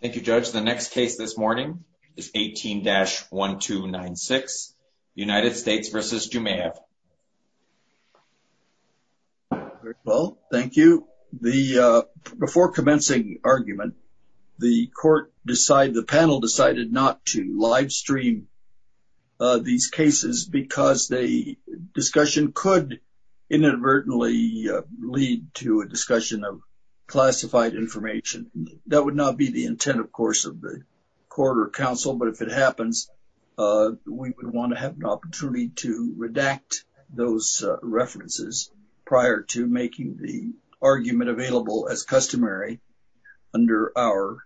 Thank You judge the next case this morning is 18-1296 United States v. Jumaev Well, thank you the Before commencing argument the court decide the panel decided not to live stream these cases because the discussion could inadvertently lead to a discussion of Intent of course of the court or council, but if it happens We would want to have an opportunity to redact those References prior to making the argument available as customary under our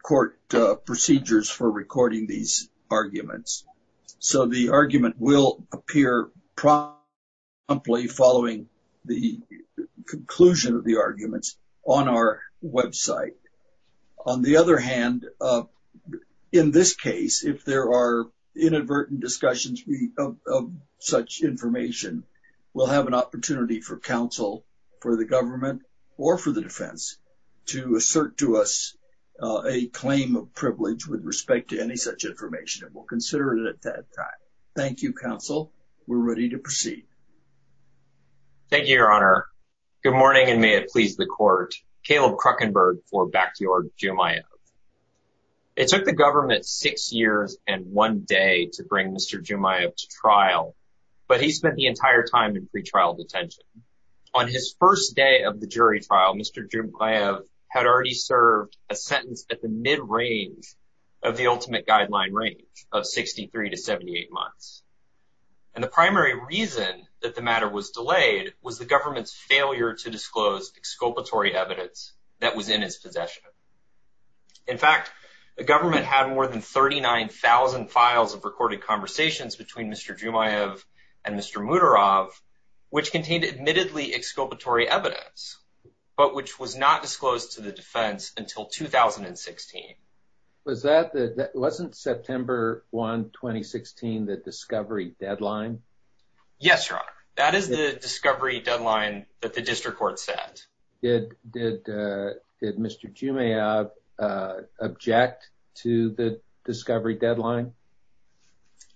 Court procedures for recording these arguments so the argument will appear promptly following the Conclusion of the arguments on our website on the other hand in this case if there are inadvertent discussions Such information will have an opportunity for counsel for the government or for the defense to assert to us a Claim of privilege with respect to any such information and we'll consider it at that time. Thank You counsel. We're ready to proceed Thank You your honor good morning and may it please the court Caleb Kruckenberg for backyard Jumaev It took the government six years and one day to bring mr. Jumaev to trial But he spent the entire time in pretrial detention on his first day of the jury trial. Mr. Jumaev Had already served a sentence at the mid-range of the ultimate guideline range of 63 to 78 months And the primary reason that the matter was delayed was the government's failure to disclose exculpatory evidence that was in his possession In fact the government had more than 39,000 files of recorded conversations between mr. Jumaev and mr. Mutor of Which contained admittedly exculpatory evidence, but which was not disclosed to the defense until 2016 was that that wasn't September 1 2016 that discovery deadline Yes, your honor. That is the discovery deadline that the district court said it did Did mr. Jumaev? object to the discovery deadline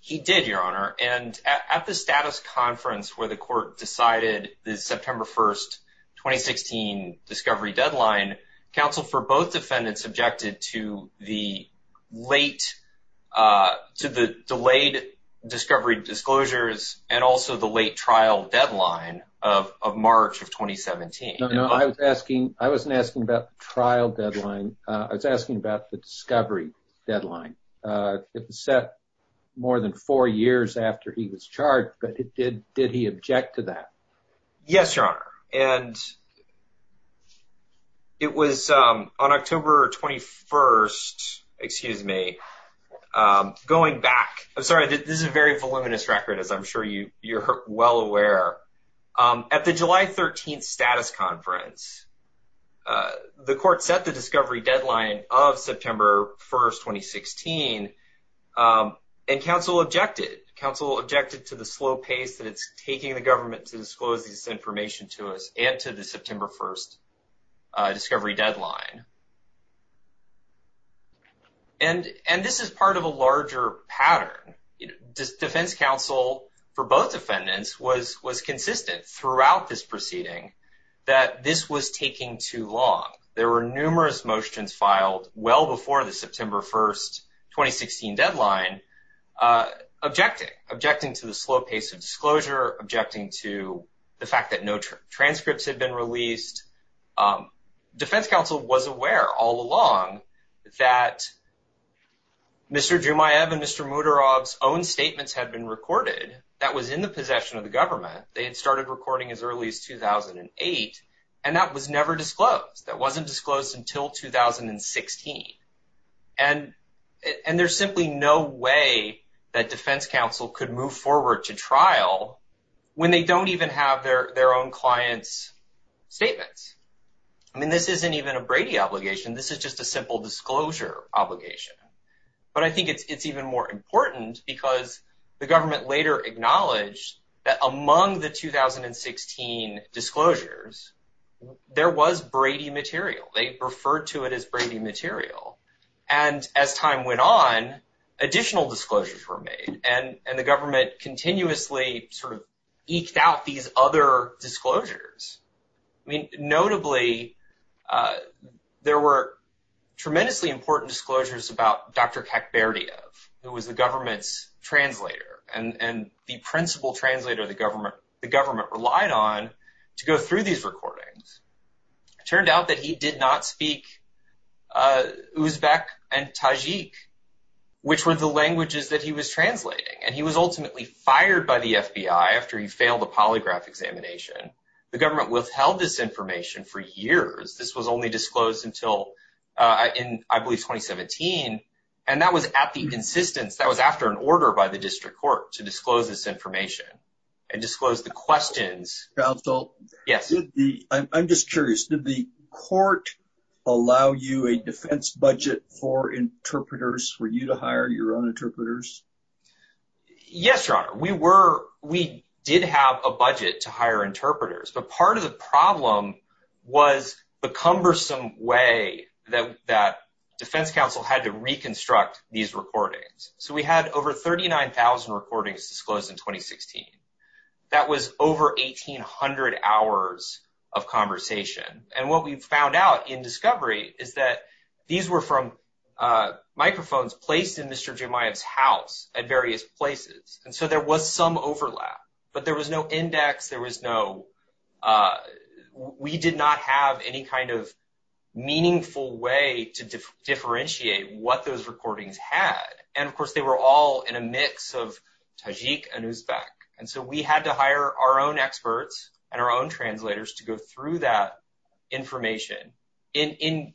He did your honor and at the status conference where the court decided the September 1st 2016 discovery deadline counsel for both defendants objected to the late To the delayed Discovery disclosures and also the late trial deadline of March of 2017 No, I was asking I wasn't asking about trial deadline. I was asking about the discovery deadline It was set more than four years after he was charged, but it did did he object to that? Yes, your honor and It was on October 21st Excuse me Going back. I'm sorry. This is a very voluminous record as I'm sure you you're well aware at the July 13th status conference The court set the discovery deadline of September 1st 2016 and counsel objected counsel objected to the slow pace that it's taking the government to disclose this information to us and to the September 1st discovery deadline And and this is part of a larger pattern defense counsel for both defendants was was consistent throughout this proceeding that This was taking too long. There were numerous motions filed well before the September 1st 2016 deadline Objecting objecting to the slow pace of disclosure objecting to the fact that no transcripts had been released Defense counsel was aware all along that Mr. Jumaiyeb and mr. Muto Rob's own statements had been recorded that was in the possession of the government They had started recording as early as 2008 and that was never disclosed. That wasn't disclosed until 2016 and And there's simply no way that defense counsel could move forward to trial When they don't even have their their own clients Statements. I mean this isn't even a Brady obligation. This is just a simple disclosure obligation But I think it's it's even more important because the government later acknowledged that among the 2016 disclosures There was Brady material. They referred to it as Brady material and as time went on Additional disclosures were made and and the government continuously sort of eked out these other disclosures, I mean notably There were Tremendously important disclosures about dr. Kek Berdy of who was the government's Translator and and the principal translator the government the government relied on to go through these recordings Turned out that he did not speak Uzbek and Tajik Which were the languages that he was translating and he was ultimately fired by the FBI after he failed a polygraph examination The government withheld this information for years. This was only disclosed until in I believe 2017 and that was at the insistence that was after an order by the district court to disclose this information and Disclose the questions counsel. Yes. I'm just curious did the court Allow you a defense budget for interpreters for you to hire your own interpreters Yes, your honor we were we did have a budget to hire interpreters, but part of the problem was The cumbersome way that that Defense Council had to reconstruct these recordings So we had over 39,000 recordings disclosed in 2016 that was over 1,800 hours of Conversation and what we found out in discovery is that these were from? Microphones placed in mr. Jemima's house at various places. And so there was some overlap, but there was no index. There was no We did not have any kind of meaningful way to differentiate what those recordings had and of course they were all in a mix of Tajik and Uzbek and so we had to hire our own experts and our own translators to go through that information in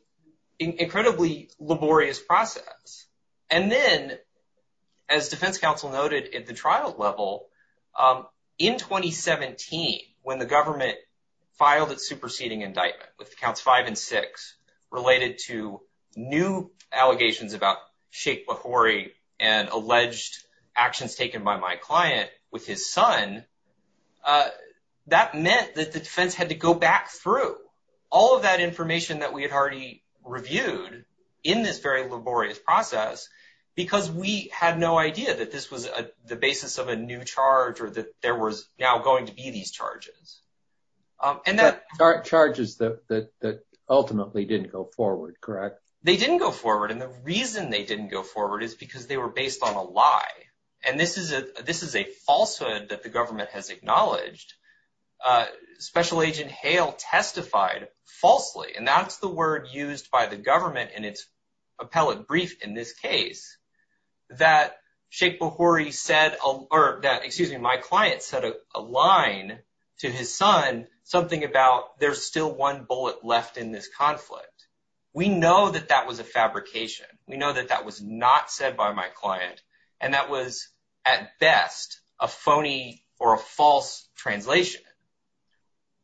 Incredibly laborious process and then as Defense Council noted in the trial level in 2017 when the government filed its superseding indictment with counts five and six related to new allegations about Sheikh Bukhari and alleged actions taken by my client with his son That meant that the defense had to go back through all of that information that we had already Reviewed in this very laborious process Because we had no idea that this was a the basis of a new charge or that there was now going to be these charges And that our charges that that ultimately didn't go forward, correct They didn't go forward and the reason they didn't go forward is because they were based on a lie And this is a this is a falsehood that the government has acknowledged Special Agent Hale testified falsely and that's the word used by the government in its appellate brief in this case That Sheikh Bukhari said or that excuse me, my client said a line to his son Something about there's still one bullet left in this conflict. We know that that was a fabrication We know that that was not said by my client and that was at best a phony or a false translation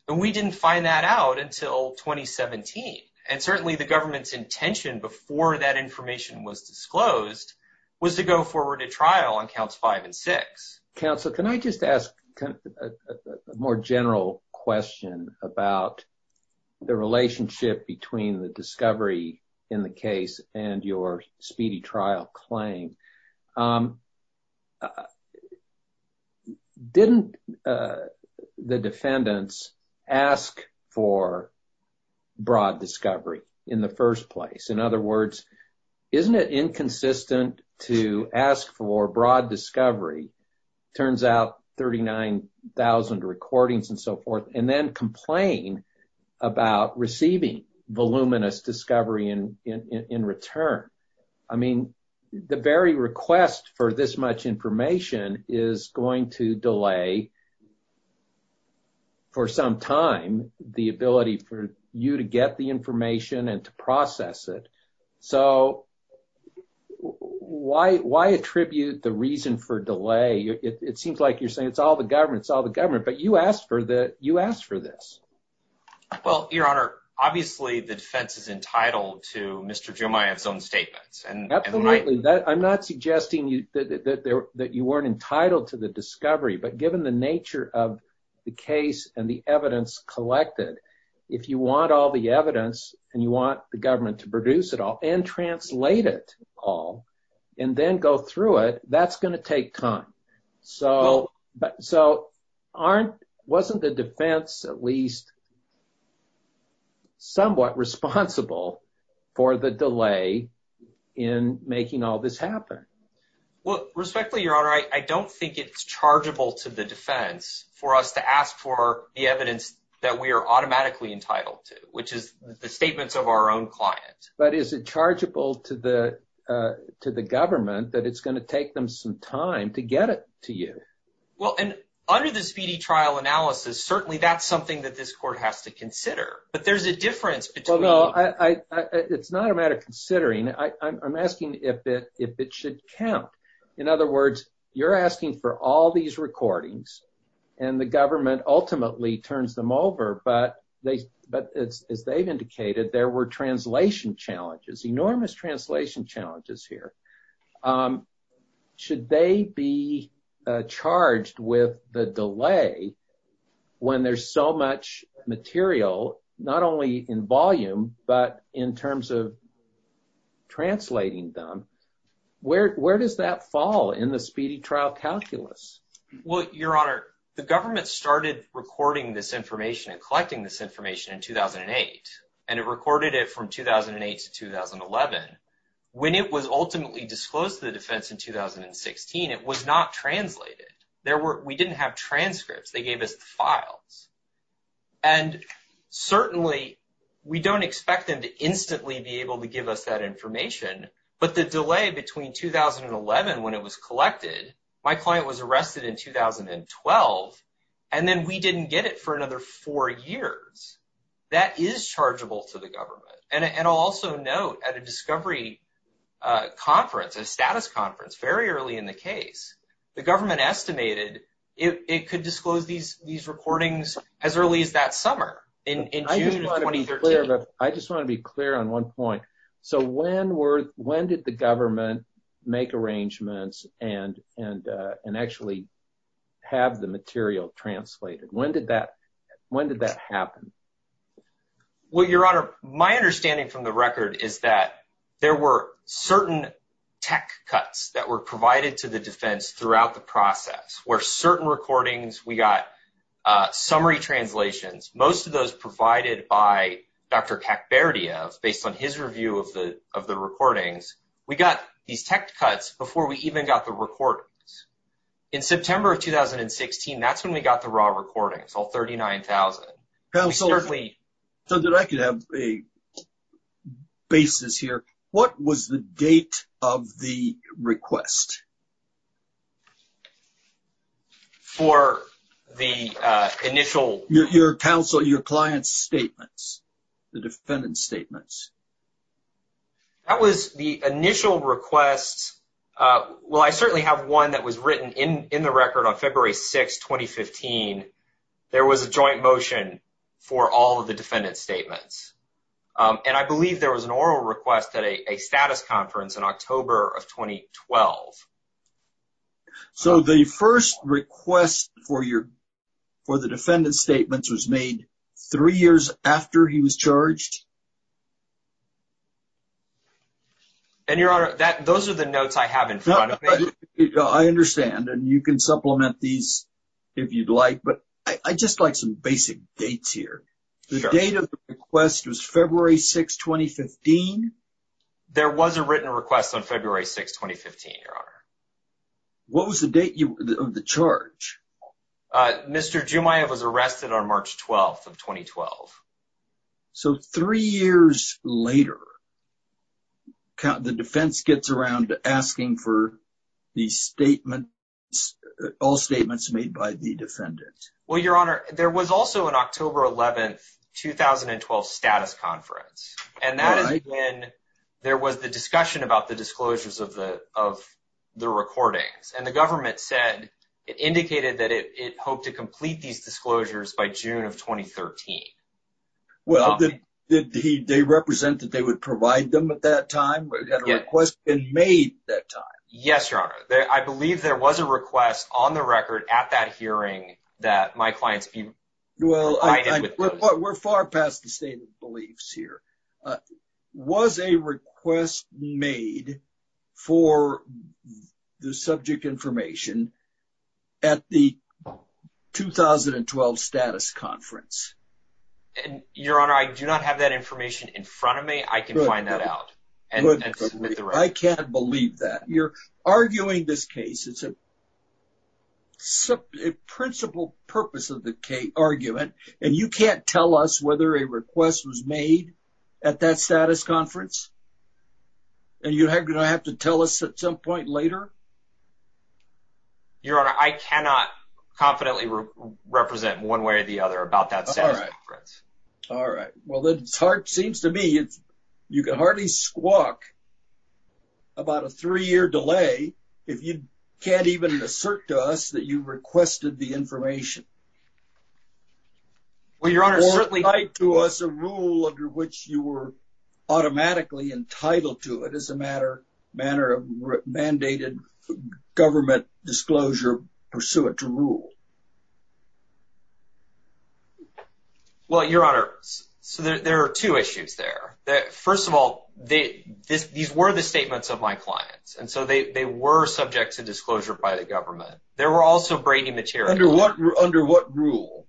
But we didn't find that out until 2017 and certainly the government's intention before that information was disclosed Was to go forward to trial on counts five and six counsel. Can I just ask a more general question about The relationship between the discovery in the case and your speedy trial claim Didn't the defendants ask for broad discovery in the first place in other words Isn't it inconsistent to ask for broad discovery? turns out 39,000 recordings and so forth and then complain about receiving voluminous discovery and in return I mean the very request for this much information is going to delay For some time the ability for you to get the information and to process it so Why why attribute the reason for delay it seems like you're saying it's all the government's all the government But you asked for that you asked for this Well, your honor, obviously the defense is entitled to mr. Jumaia its own statements and absolutely that I'm not suggesting you that there that you weren't entitled to the discovery but given the nature of the case and the evidence collected if you want all the evidence and you want the It all and then go through it that's gonna take time. So so Aren't wasn't the defense at least Somewhat responsible for the delay in Making all this happen Well respectfully your honor I don't think it's chargeable to the defense for us to ask for the evidence that we are automatically entitled to which is Statements of our own client, but is it chargeable to the To the government that it's going to take them some time to get it to you Well, and under the speedy trial analysis, certainly that's something that this court has to consider, but there's a difference. Well, no, I It's not a matter of considering. I'm asking if it if it should count in other words You're asking for all these recordings and the government ultimately turns them over But they but it's as they've indicated there were translation challenges enormous translation challenges here Should they be charged with the delay when there's so much material not only in volume, but in terms of Translating them Where where does that fall in the speedy trial calculus? Well, your honor the government started recording this information and collecting this information in 2008 and it recorded it from 2008 to 2011 when it was ultimately disclosed to the defense in 2016 it was not translated. There were we didn't have transcripts. They gave us the files and Certainly we don't expect them to instantly be able to give us that information but the delay between 2011 when it was collected. My client was arrested in 2012 and then we didn't get it for another four years That is chargeable to the government and and also note at a discovery Conference a status conference very early in the case the government estimated It could disclose these these recordings as early as that summer in I just want to be clear on one point. So when were when did the government make arrangements and and and actually Have the material translated when did that when did that happen? Well, your honor my understanding from the record is that there were certain Tech cuts that were provided to the defense throughout the process where certain recordings we got Summary translations most of those provided by Dr. Kek Berdia based on his review of the of the recordings. We got these tech cuts before we even got the records in September of 2016 that's when we got the raw recordings all 39,000. That was certainly so that I could have a Basis here. What was the date of the request? For the Initial your counsel your client's statements the defendant's statements That was the initial requests Well, I certainly have one that was written in in the record on February 6, 2015 There was a joint motion for all of the defendant's statements And I believe there was an oral request at a status conference in October of 2012 So the first request for your for the defendant's statements was made three years after he was charged And your honor that those are the notes I have in front of you I Understand and you can supplement these if you'd like, but I just like some basic dates here The date of the request was February 6, 2015 There was a written request on February 6, 2015, your honor What was the date you the charge? Mr. Jumiah was arrested on March 12th of 2012. So three years later Count the defense gets around asking for the statement All statements made by the defendant. Well, your honor. There was also an October 11th 2012 status conference and that is when there was the discussion about the disclosures of the of The recordings and the government said it indicated that it hoped to complete these disclosures by June of 2013 Well, did he they represent that they would provide them at that time request been made that time? Yes, your honor there. I believe there was a request on the record at that hearing that my clients be well We're far past the state of beliefs here was a request made for The subject information at the 2012 status conference And your honor, I do not have that information in front of me. I can find that out and I can't believe that you're arguing this case. It's a Principal purpose of the K argument and you can't tell us whether a request was made at that status conference And you had gonna have to tell us at some point later Your honor I cannot Confidently represent one way or the other about that. Sorry All right. Well, that's hard seems to me. It's you can hardly squawk About a three-year delay if you can't even assert to us that you requested the information Well, your honor certainly like to us a rule under which you were Automatically entitled to it as a matter manner of mandated government disclosure Pursue it to rule Well Your honor so there are two issues there that first of all they this these were the statements of my clients And so they were subject to disclosure by the government. There were also Brady material under what under what rule?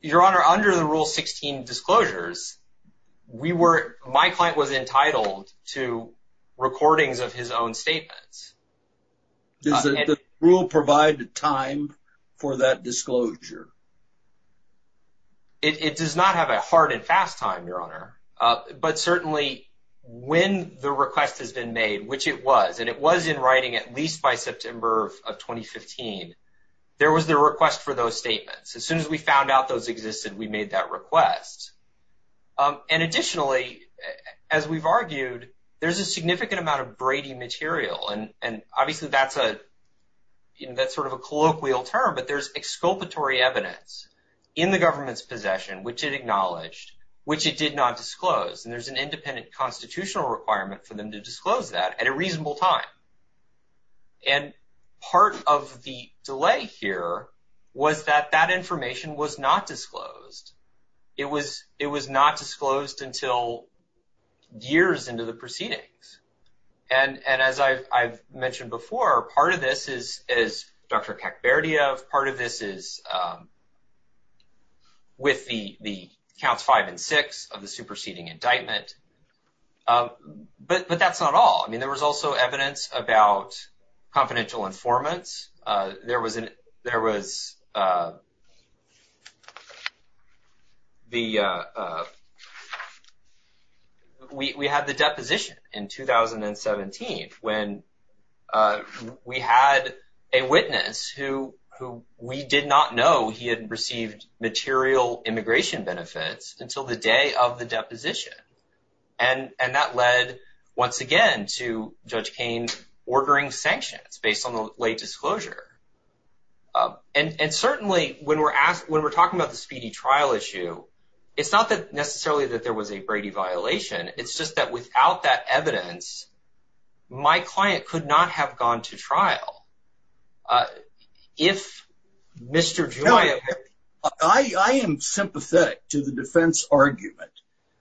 Your honor under the rule 16 disclosures We were my client was entitled to recordings of his own statements Does the rule provide the time for that disclosure It does not have a hard and fast time your honor but certainly When the request has been made which it was and it was in writing at least by September of 2015 There was the request for those statements as soon as we found out those existed. We made that request And additionally as we've argued there's a significant amount of Brady material and and obviously that's a You know, that's sort of a colloquial term But there's exculpatory evidence in the government's possession which it acknowledged which it did not disclose and there's an independent constitutional requirement for them to disclose that at a reasonable time and Part of the delay here was that that information was not disclosed It was it was not disclosed until years into the proceedings and And as I've mentioned before part of this is as dr. Kacperdia of part of this is With the the counts five and six of the superseding indictment But but that's not all I mean there was also evidence about confidential informants there was an there was The We had the deposition in 2017 when We had a witness who who we did not know he hadn't received material immigration benefits until the day of the deposition and And that led once again to Judge Kane ordering sanctions based on the late disclosure And and certainly when we're asked when we're talking about the speedy trial issue It's not that necessarily that there was a Brady violation. It's just that without that evidence My client could not have gone to trial If Mr. Joy, I Am sympathetic to the defense argument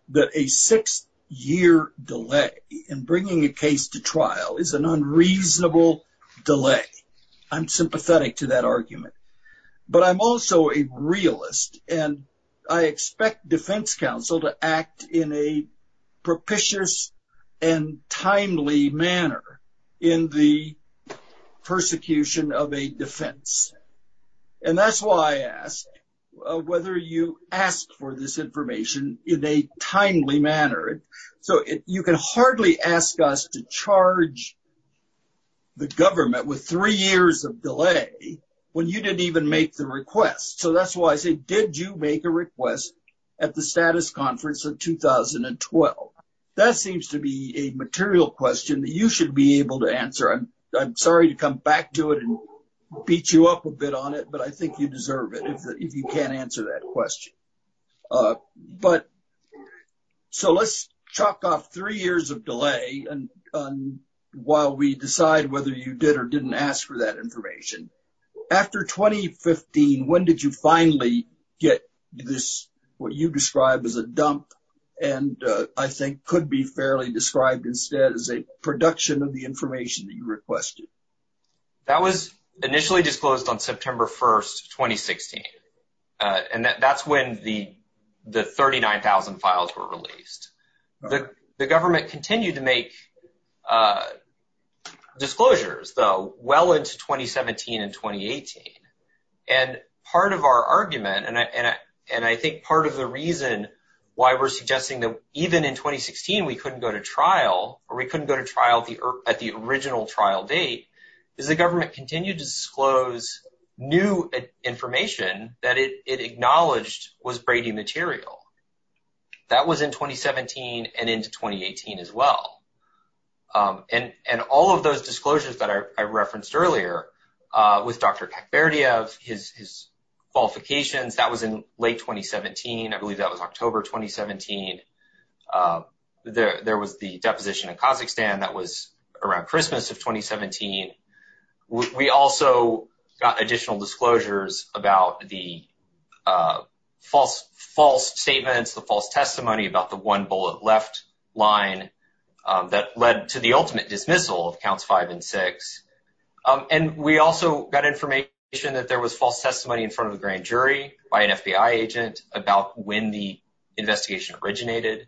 that a six year delay in bringing a case to trial is an Unreasonable delay, I'm sympathetic to that argument but I'm also a realist and I expect defense counsel to act in a propitious and timely manner in the Persecution of a defense and that's why I asked Whether you ask for this information in a timely manner so it you can hardly ask us to charge The government with three years of delay when you didn't even make the request So that's why I say did you make a request at the status conference of? 2012 that seems to be a material question that you should be able to answer. I'm sorry to come back to it and Beat you up a bit on it, but I think you deserve it if you can't answer that question but so let's chalk off three years of delay and While we decide whether you did or didn't ask for that information after 2015 when did you finally get this what you described as a dump and I think could be fairly described instead as a production of the information that you requested That was initially disclosed on September 1st 2016 And that's when the the 39,000 files were released The the government continued to make Disclosures though well into 2017 and 2018 and part of our argument and I and I think part of the reason why we're suggesting that even in 2016 We couldn't go to trial or we couldn't go to trial the earth at the original trial date is the government continued to disclose new Information that it acknowledged was Brady material That was in 2017 and into 2018 as well And and all of those disclosures that I referenced earlier with dr. Kacperdia of his Qualifications that was in late 2017. I believe that was October 2017 There there was the deposition in Kazakhstan that was around Christmas of 2017 we also got additional disclosures about the False false statements the false testimony about the one bullet left line That led to the ultimate dismissal of counts five and six and we also got information that there was false testimony in front of the grand jury by an FBI agent about when the investigation originated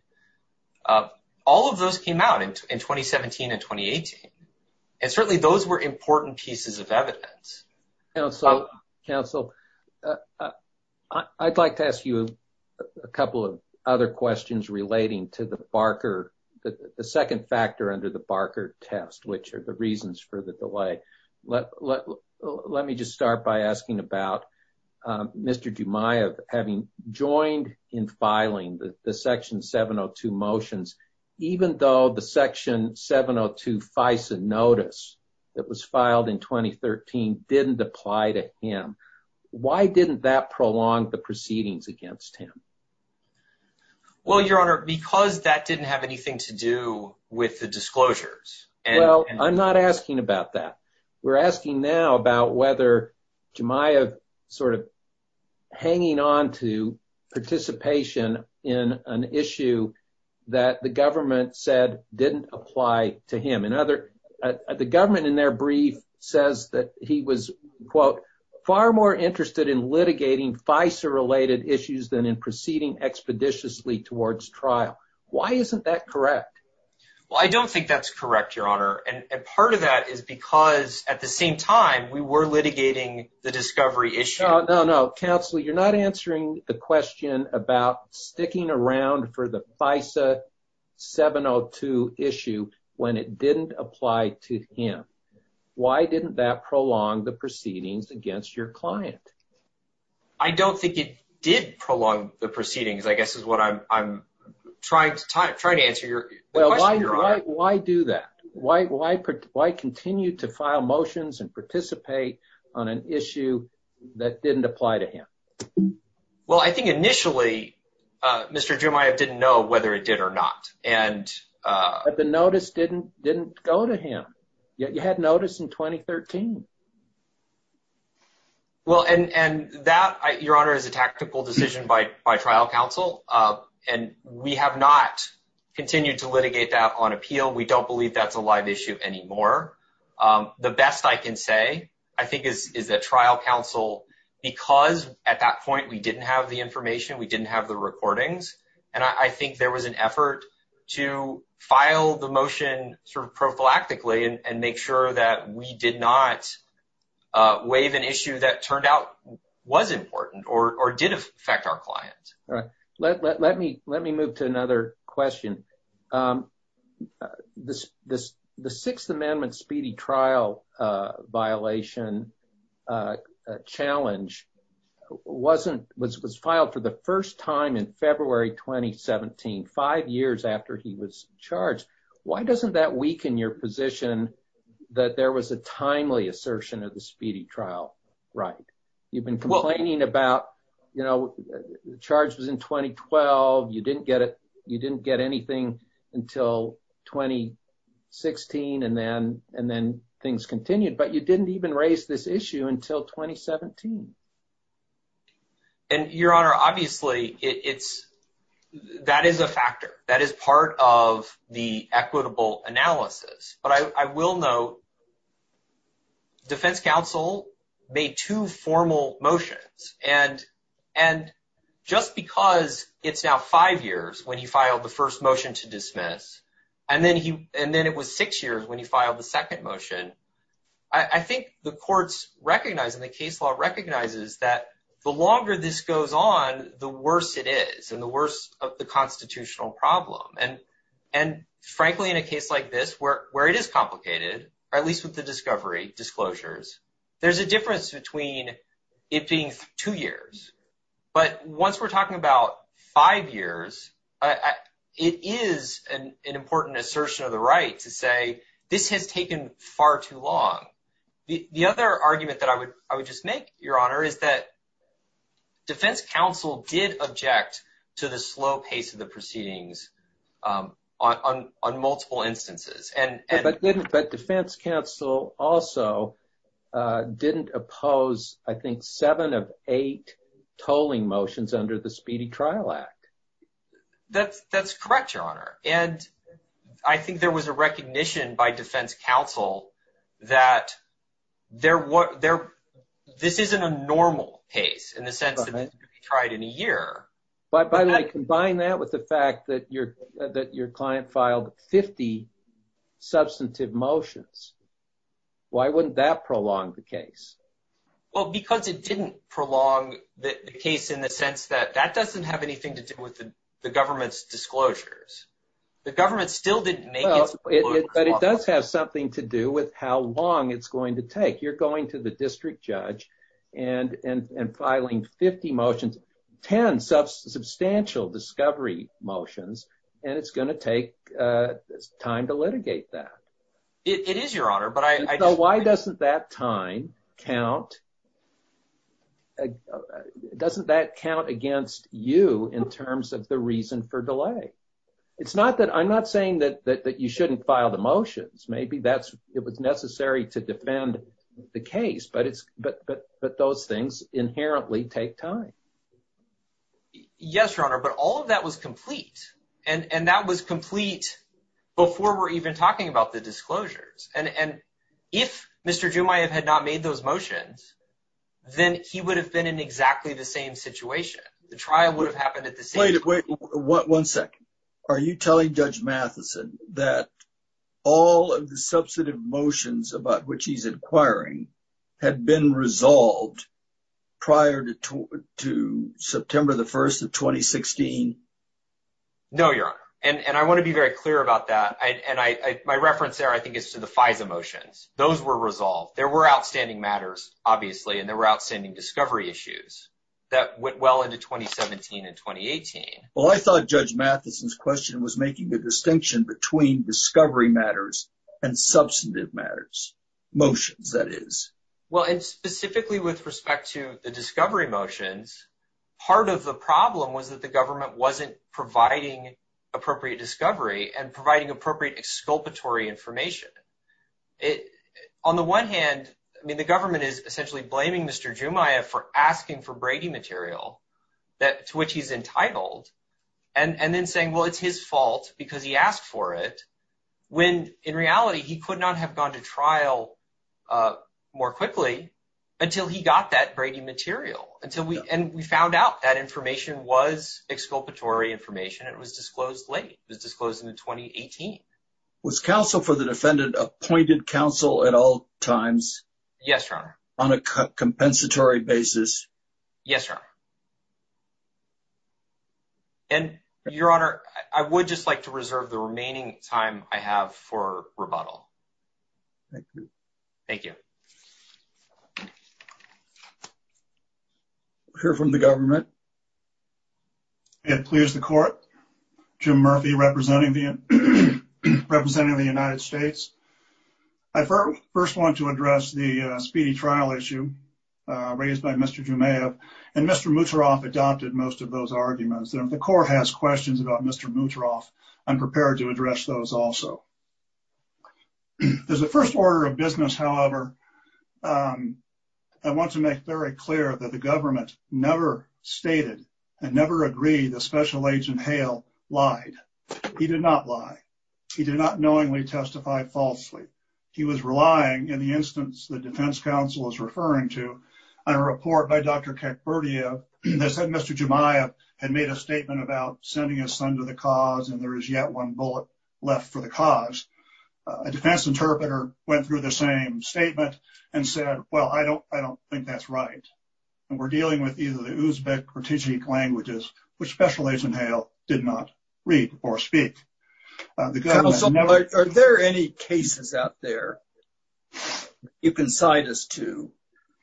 All of those came out in 2017 and 2018 and certainly those were important pieces of evidence so council I'd like to ask you a Couple of other questions relating to the Barker that the second factor under the Barker test, which are the reasons for the delay Let me just start by asking about Mr. Jumai of having joined in filing the section 702 motions Even though the section 702 FISA notice that was filed in 2013 didn't apply to him Why didn't that prolong the proceedings against him? Well, your honor because that didn't have anything to do with the disclosures And well, I'm not asking about that. We're asking now about whether Jumai of sort of hanging on to participation in an issue that the government said didn't apply to him and other The government in their brief says that he was quote far more interested in litigating FISA related issues than in proceeding Expeditiously towards trial. Why isn't that correct? Well, I don't think that's correct your honor and part of that is because at the same time we were litigating the discovery issue No, no, no counsel. You're not answering the question about sticking around for the FISA 702 issue when it didn't apply to him Why didn't that prolong the proceedings against your client? I Don't think it did prolong the proceedings. I guess is what I'm Trying to try to answer your well, why do that? Why why why continue to file motions and participate on an issue that didn't apply to him? Well, I think initially Mr. Jumai, I didn't know whether it did or not and But the notice didn't didn't go to him yet. You had notice in 2013 Well, and and that your honor is a tactical decision by my trial counsel and we have not Continued to litigate that on appeal. We don't believe that's a live issue anymore The best I can say I think is is that trial counsel? Because at that point we didn't have the information we didn't have the recordings and I think there was an effort to File the motion sort of prophylactically and make sure that we did not Waive an issue that turned out was important or did affect our client. All right, let me let me move to another question This this the Sixth Amendment speedy trial violation Challenge Wasn't was was filed for the first time in February 2017 five years after he was charged. Why doesn't that weaken your position? That there was a timely assertion of the speedy trial, right? You've been complaining about you know Charge was in 2012. You didn't get it. You didn't get anything until 2016 and then and then things continued but you didn't even raise this issue until 2017 and Your honor obviously it's That is a factor that is part of the equitable analysis, but I will note Defense counsel made two formal motions and and Just because it's now five years when he filed the first motion to dismiss And then he and then it was six years when he filed the second motion I Think the courts recognize in the case law recognizes that the longer this goes on the worse it is and the worst of the constitutional problem and and Frankly in a case like this where where it is complicated or at least with the discovery disclosures There's a difference between it being two years But once we're talking about five years It is an important assertion of the right to say this has taken far too long the the other argument that I would I would just make your honor is that Defense counsel did object to the slow pace of the proceedings on multiple instances and but defense counsel also Didn't oppose I think seven of eight tolling motions under the Speedy Trial Act that's that's correct your honor, and I think there was a recognition by defense counsel that There were there. This isn't a normal case in the sense. I tried in a year But by the way combine that with the fact that your that your client filed 50 substantive motions Why wouldn't that prolong the case? Well because it didn't prolong the case in the sense that that doesn't have anything to do with the government's disclosures The government still didn't make it but it does have something to do with how long it's going to take you're going to the district judge and And and filing 50 motions 10 substantial discovery motions, and it's going to take Time to litigate that it is your honor, but I know why doesn't that time? count Doesn't that count against you in terms of the reason for delay It's not that I'm not saying that that you shouldn't file the motions Maybe that's it was necessary to defend the case, but it's but but but those things inherently take time Yes, your honor, but all of that was complete and and that was complete Before we're even talking about the disclosures and and if mr.. Doom I have had not made those motions Then he would have been in exactly the same situation the trial would have happened at the same way to wait What one second are you telling judge Matheson that? All of the substantive motions about which he's inquiring had been resolved prior to September the 1st of 2016 No, your honor, and and I want to be very clear about that, and I my reference there I think is to the FISA motions those were resolved there were outstanding matters obviously and there were outstanding discovery issues That went well into 2017 and 2018 well I thought judge Matheson's question was making the distinction between discovery matters and substantive matters Motions that is well and specifically with respect to the discovery motions Part of the problem was that the government wasn't providing appropriate discovery and providing appropriate exculpatory information It on the one hand. I mean the government is essentially blaming mr. Doom I have for asking for Brady material that to which he's entitled and And then saying well, it's his fault because he asked for it When in reality he could not have gone to trial More quickly until he got that Brady material until we and we found out that information was Exculpatory information it was disclosed late. It was disclosed in the 2018 Was counsel for the defendant appointed counsel at all times? Yes, your honor on a cut compensatory basis. Yes, sir And your honor I would just like to reserve the remaining time I have for rebuttal Thank you Hear from the government It please the court to Murphy representing the representing the United States I First want to address the speedy trial issue Raised by mr. Jumeirah and mr. Moutaroff adopted most of those arguments and the court has questions about mr. Moutaroff I'm prepared to address those also If there's a first order of business, however I Want to make very clear that the government never stated and never agreed the special agent Hale lied He did not lie. He did not knowingly testify falsely He was relying in the instance the defense counsel is referring to a report by dr. Kekpertia And they said mr. Jumeirah had made a statement about sending a son to the cause and there is yet one bullet left for the cause a Defense interpreter went through the same statement and said well I don't I don't think that's right and we're dealing with either the Uzbek or Tijik languages Which special agent Hale did not read or speak? The gun also are there any cases out there? You can cite us to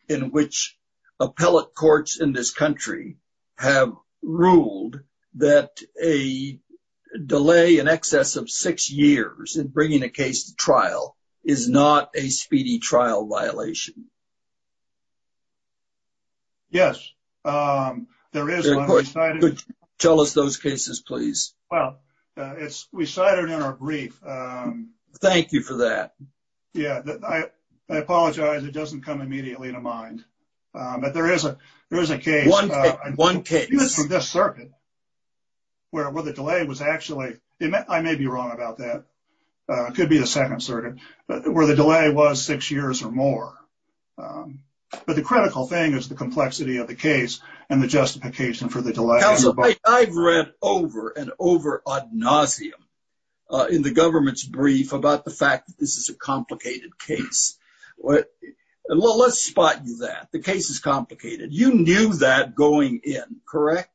in which appellate courts in this country have ruled that a Delay in excess of six years and bringing a case to trial is not a speedy trial violation Yes Tell us those cases please. Well, it's we cited in our brief Thank you for that. Yeah, I Apologize, it doesn't come immediately to mind But there is a there's a case one one case this circuit Where were the delay was actually it meant I may be wrong about that Could be the second circuit, but where the delay was six years or more But the critical thing is the complexity of the case and the justification for the delay I've read over and over ad nauseum In the government's brief about the fact that this is a complicated case What and well, let's spot you that the case is complicated. You knew that going in correct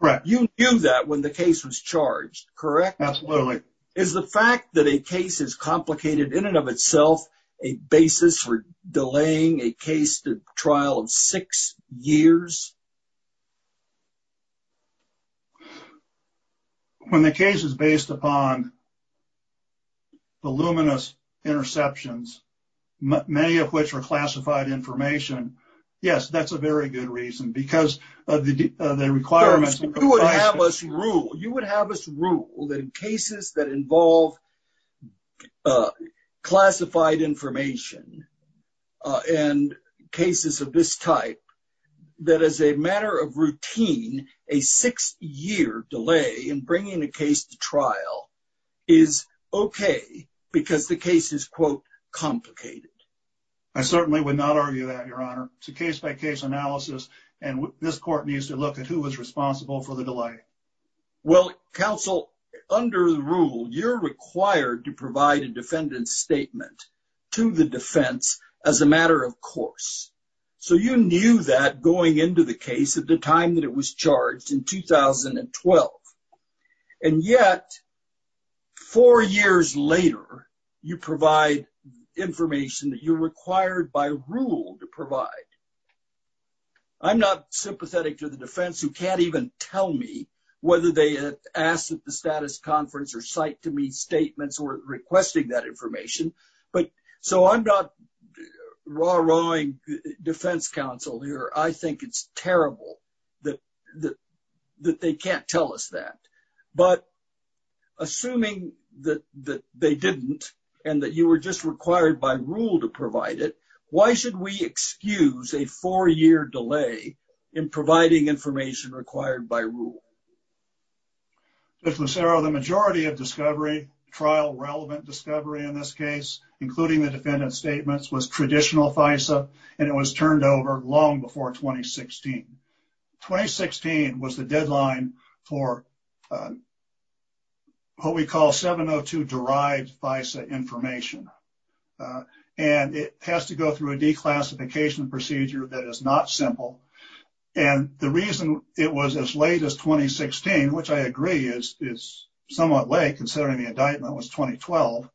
Correct. You knew that when the case was charged, correct? absolutely is the fact that a case is complicated in and of itself a basis for delaying a case to trial of six years When the case is based upon the luminous interceptions Many of which are classified information Yes, that's a very good reason because the requirements You would have us rule that in cases that involve Classified information and cases of this type that as a matter of routine a six-year delay in bringing a case to trial is Okay, because the case is quote Complicated I certainly would not argue that your honor to case-by-case analysis and this court needs to look at who was responsible for the delay Well counsel under the rule you're required to provide a defendant's statement To the defense as a matter of course So you knew that going into the case at the time that it was charged in 2012 and yet four years later you provide Information that you required by rule to provide I'm not sympathetic to the defense who can't even tell me whether they Asked at the status conference or cite to me statements or requesting that information, but so I'm not raw rowing Defense counsel here. I think it's terrible that the that they can't tell us that but Assuming that that they didn't and that you were just required by rule to provide it Why should we excuse a four-year delay in providing information required by rule? If Lucero the majority of discovery trial relevant discovery in this case Including the defendant statements was traditional FISA, and it was turned over long before 2016 2016 was the deadline for What we call 702 derived FISA information and it has to go through a declassification procedure that is not simple and The reason it was as late as 2016 which I agree is is somewhat late considering the indictment was 2012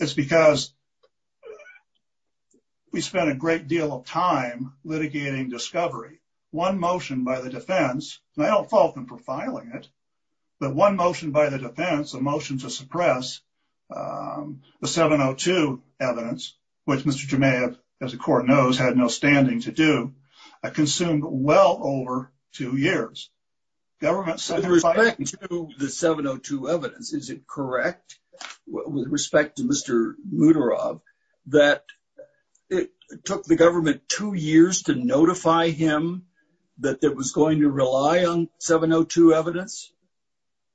it's because We spent a great deal of time Litigating discovery one motion by the defense and I don't fault them for filing it But one motion by the defense a motion to suppress the 702 evidence Which mr. Jamea as the court knows had no standing to do I consumed well over two years government The 702 evidence, is it correct? With respect to mr. Mutter of that It took the government two years to notify him that there was going to rely on 702 evidence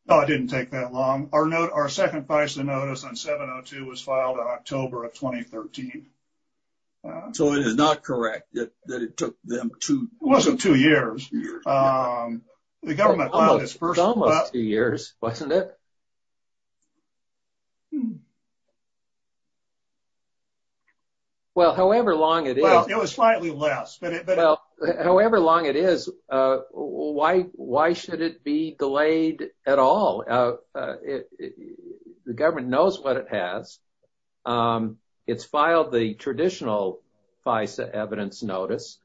No, I didn't take that long. Our note our second price the notice on 702 was filed on October of 2013 So it is not correct that it took them to wasn't two years The government was first almost two years, wasn't it? Well, however long it is it was slightly less but it but however long it is Why why should it be delayed at all? The government knows what it has It's filed the traditional FISA evidence notice.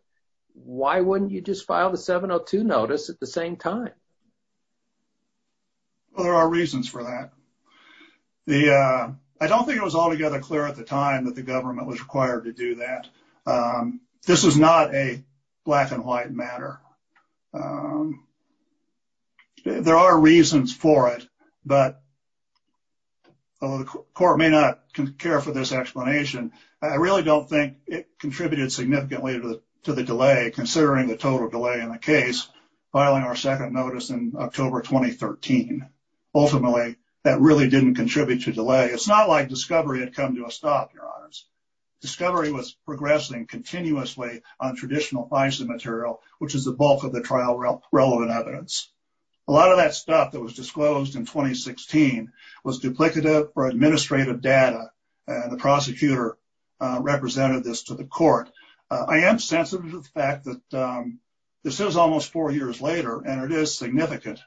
Why wouldn't you just file the 702 notice at the same time? Well, there are reasons for that The I don't think it was altogether clear at the time that the government was required to do that This is not a black and white matter I There are reasons for it, but Although the court may not care for this explanation I really don't think it contributed significantly to the delay considering the total delay in the case filing our second notice in October 2013 Ultimately that really didn't contribute to delay. It's not like discovery had come to a stop your honors Discovery was progressing continuously on traditional FISA material which is the bulk of the trial relevant evidence a lot of that stuff that was disclosed in 2016 was duplicative or administrative data and the prosecutor Represented this to the court. I am sensitive to the fact that This is almost four years later and it is significant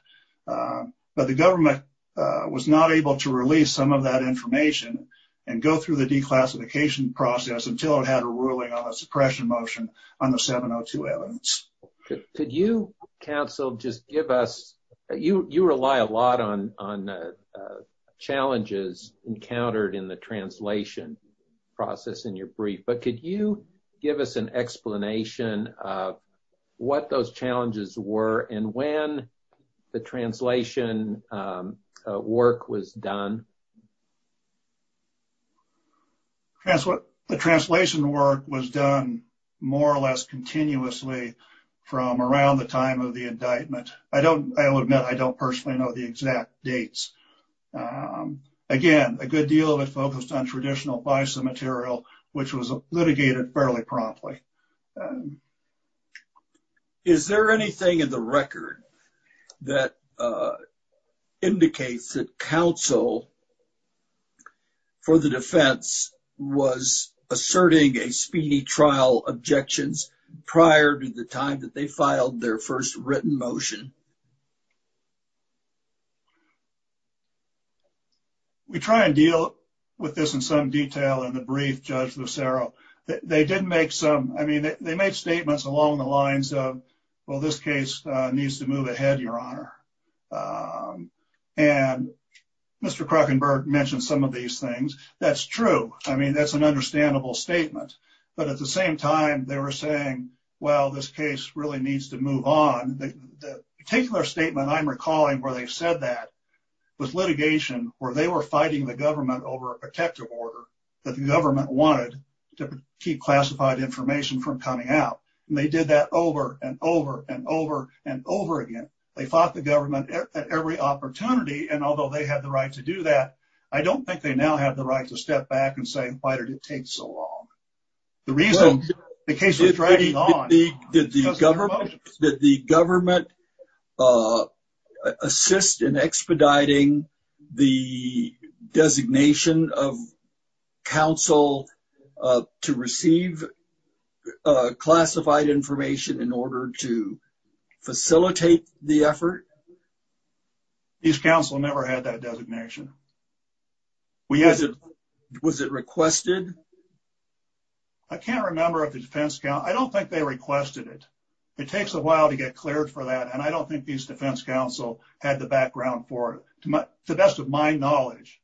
but the government Was not able to release some of that information and go through the declassification Process until it had a ruling on a suppression motion on the 702 evidence Could you counsel just give us you you rely a lot on on Challenges encountered in the translation process in your brief, but could you give us an explanation of What those challenges were and when the translation? Work was done That's what the translation work was done more or less continuously From around the time of the indictment. I don't I will admit. I don't personally know the exact dates Again a good deal of it focused on traditional FISA material which was litigated fairly promptly Is there anything in the record that Indicates that counsel For the defense was Asserting a speedy trial objections prior to the time that they filed their first written motion We try and deal with this in some detail in the brief judge Lucero They didn't make some I mean they made statements along the lines of well this case needs to move ahead your honor and Mr. Krackenberg mentioned some of these things that's true. I mean that's an understandable statement But at the same time they were saying well this case really needs to move on particular statement I'm recalling where they said that With litigation where they were fighting the government over a protective order that the government wanted to keep classified Information from coming out and they did that over and over and over and over again They fought the government at every opportunity and although they had the right to do that I don't think they now have the right to step back and say why did it take so long? The reason the case is ready on the government that the government Assist in expediting the designation of counsel to receive Classified information in order to Effort These counsel never had that designation We as it was it requested. I Can't remember if the defense count. I don't think they requested it It takes a while to get cleared for that and I don't think these defense counsel had the background for it Too much the best of my knowledge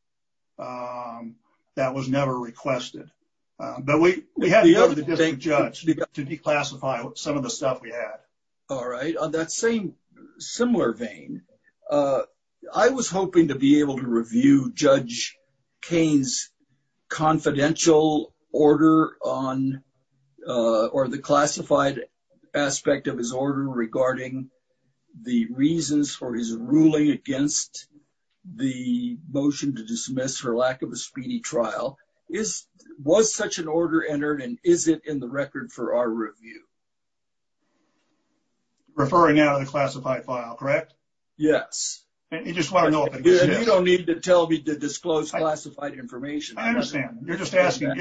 That was never requested But we had the other day judge to declassify some of the stuff we had All right on that same similar vein, uh, I was hoping to be able to review judge kane's confidential order on or the classified aspect of his order regarding the reasons for his ruling against the motion to dismiss for lack of a speedy trial is Was such an order entered and is it in the record for our review? Referring out of the classified file, correct? Yes And you just want to know if you don't need to tell me to disclose classified information. I understand you're just asking I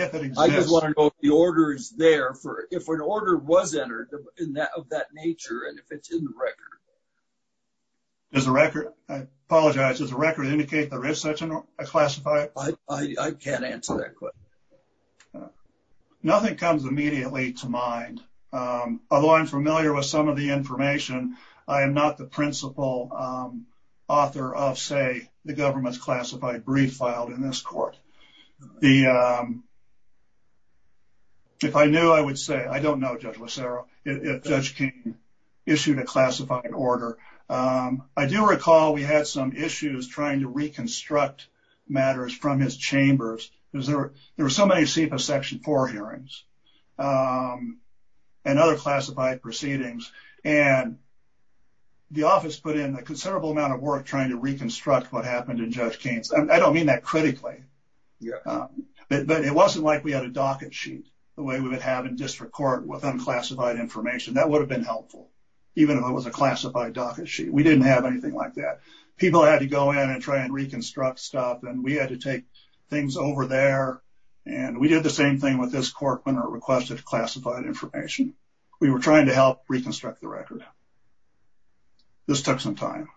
just want to know if the order is there for if an order was entered in that of that nature and if it's in the record There's a record. I apologize. There's a record to indicate there is such a classified. I I can't answer that question Nothing comes immediately to mind Although i'm familiar with some of the information I am not the principal Author of say the government's classified brief filed in this court the If I knew I would say I don't know judge lacero if judge king Issued a classified order. Um, I do recall we had some issues trying to reconstruct Matters from his chambers because there were there were so many sepah section 4 hearings um and other classified proceedings and The office put in a considerable amount of work trying to reconstruct what happened in judge kane's. I don't mean that critically Yeah But it wasn't like we had a docket sheet the way we would have in district court with unclassified information That would have been helpful Even if it was a classified docket sheet We didn't have anything like that people had to go in and try and reconstruct stuff and we had to take things over there And we did the same thing with this court when it requested classified information we were trying to help reconstruct the record This took some time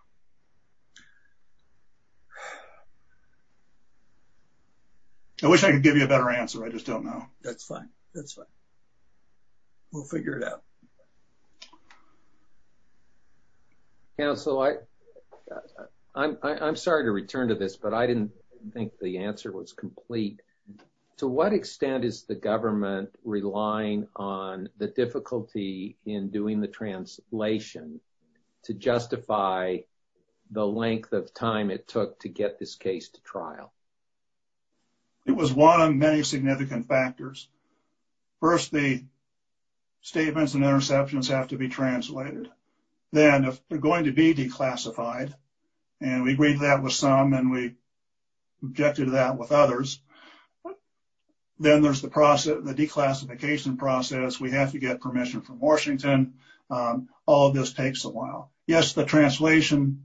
I wish I could give you a better answer. I just don't know that's fine. That's fine. We'll figure it out Yeah, so I I'm i'm sorry to return to this, but I didn't think the answer was complete To what extent is the government relying on the difficulty in doing the translation? to justify The length of time it took to get this case to trial It was one of many significant factors first the Statements and interceptions have to be translated Then if they're going to be declassified and we agreed that with some and we objected to that with others Then there's the process the declassification process we have to get permission from washington All this takes a while. Yes the translation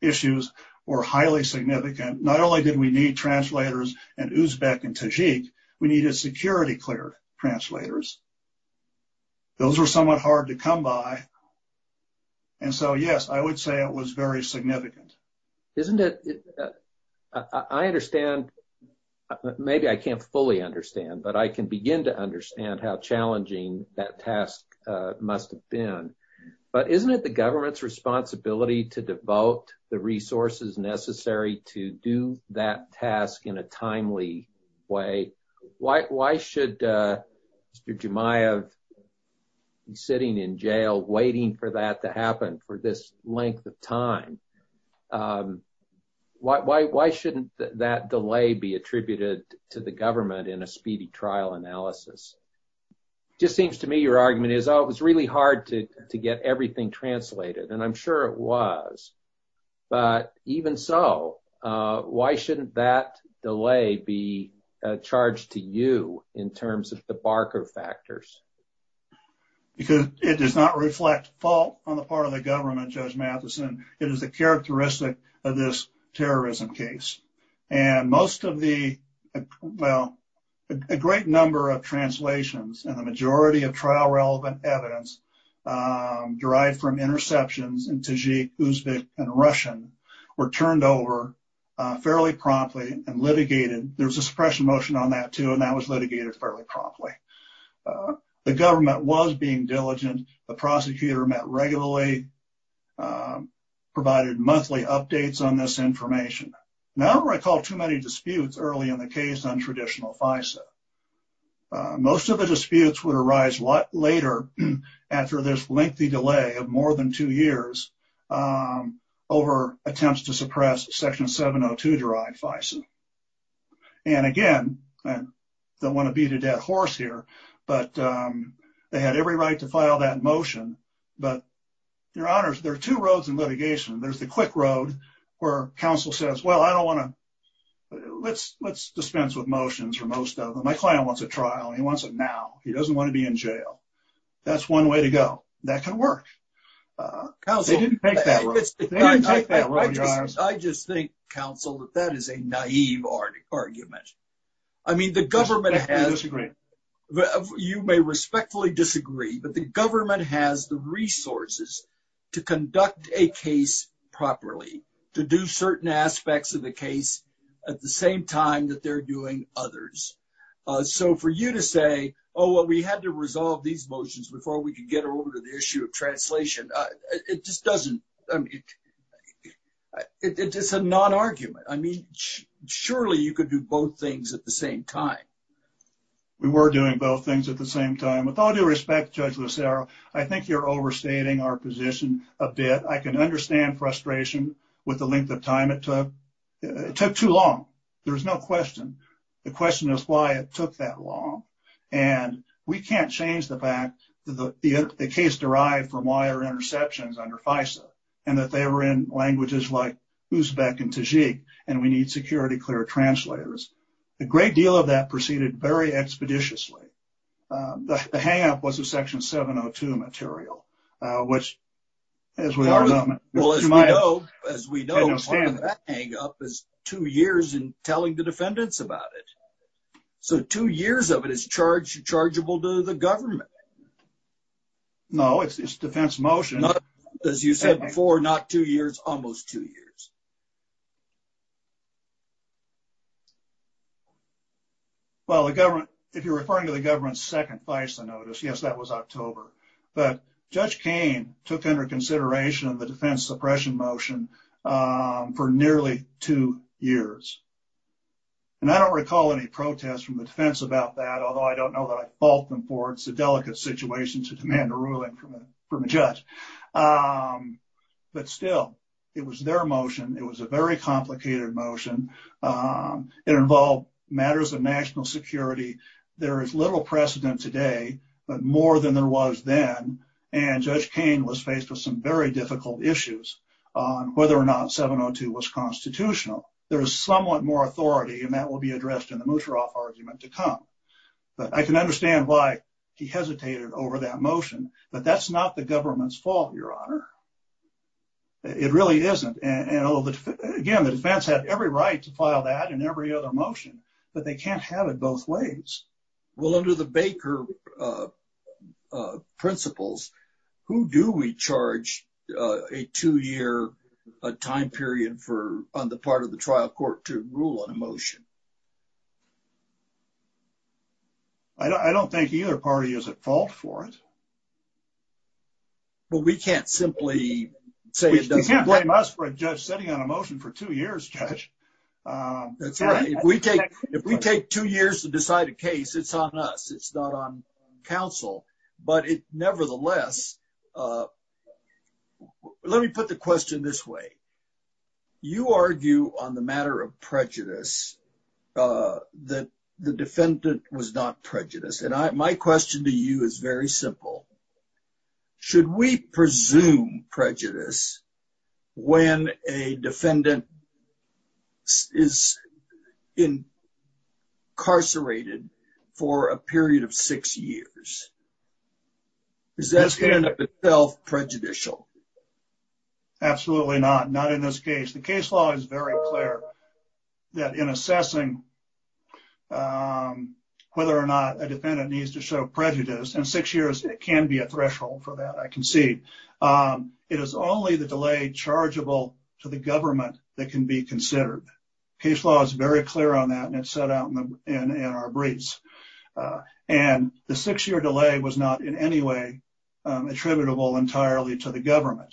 Issues were highly significant. Not only did we need translators and uzbek and tajik. We needed security cleared translators Those were somewhat hard to come by And so yes, I would say it was very significant isn't it I understand Maybe I can't fully understand but I can begin to understand how challenging that task, uh must have been But isn't it the government's responsibility to devote the resources necessary to do that task in a timely? way Why why should uh? Mr. Jumaiah Sitting in jail waiting for that to happen for this length of time um Why why why shouldn't that delay be attributed to the government in a speedy trial analysis? Just seems to me your argument is oh, it was really hard to to get everything translated and i'm sure it was but even so uh, why shouldn't that delay be Charged to you in terms of the barker factors Because it does not reflect fault on the part of the government judge matheson. It is the characteristic of this terrorism case and most of the well A great number of translations and the majority of trial relevant evidence Um derived from interceptions in tajik uzbek and russian were turned over Fairly promptly and litigated there's a suppression motion on that too. And that was litigated fairly promptly The government was being diligent the prosecutor met regularly Provided monthly updates on this information. Now, I don't recall too many disputes early in the case on traditional fisa Most of the disputes would arise what later after this lengthy delay of more than two years Um over attempts to suppress section 702 derived fison and again don't want to beat a dead horse here, but They had every right to file that motion but Your honors, there are two roads in litigation. There's the quick road where counsel says well, I don't want to Let's let's dispense with motions for most of them. My client wants a trial and he wants it now He doesn't want to be in jail That's one way to go that can work Uh, they didn't take that I just think counsel that that is a naive argument I mean the government has You may respectfully disagree, but the government has the resources To conduct a case properly to do certain aspects of the case at the same time that they're doing others Uh, so for you to say oh what we had to resolve these motions before we could get over to the issue of translation It just doesn't I mean It's just a non-argument, I mean surely you could do both things at the same time We were doing both things at the same time with all due respect judge. Lucero I think you're overstating our position a bit. I can understand frustration with the length of time it took It took too long, there's no question the question is why it took that long And we can't change the fact that the the case derived from wire interceptions under FISA And that they were in languages like Uzbek and Tajik and we need security clear translators A great deal of that proceeded very expeditiously uh, the hang-up was a section 702 material, uh, which As we are well as we know as we know Up as two years in telling the defendants about it So two years of it is charged chargeable to the government No, it's defense motion as you said before not two years almost two years Well the government if you're referring to the government's second FISA notice Yes, that was october, but judge kane took under consideration of the defense suppression motion for nearly two years And I don't recall any protests from the defense about that Although I don't know that I fault them for it's a delicate situation to demand a ruling from a judge But still it was their motion it was a very complicated motion Um, it involved matters of national security There is little precedent today But more than there was then and judge kane was faced with some very difficult issues On whether or not 702 was constitutional There is somewhat more authority and that will be addressed in the mutroff argument to come But I can understand why he hesitated over that motion, but that's not the government's fault your honor It really isn't and you know Again, the defense had every right to file that and every other motion, but they can't have it both ways Well under the baker Uh principles Who do we charge? A two-year A time period for on the part of the trial court to rule on a motion I don't think either party is at fault for it But we can't simply Say it doesn't blame us for a judge sitting on a motion for two years judge Um, that's right. If we take if we take two years to decide a case, it's on us. It's not on council but it nevertheless Let me put the question this way You argue on the matter of prejudice Uh that the defendant was not prejudiced and I my question to you is very simple Should we presume prejudice? when a defendant Is Incarcerated for a period of six years Is that standing up itself prejudicial Absolutely not not in this case the case law is very clear that in assessing um For that I can see Um, it is only the delay chargeable to the government that can be considered Case law is very clear on that and it's set out in the in in our briefs Uh, and the six-year delay was not in any way attributable entirely to the government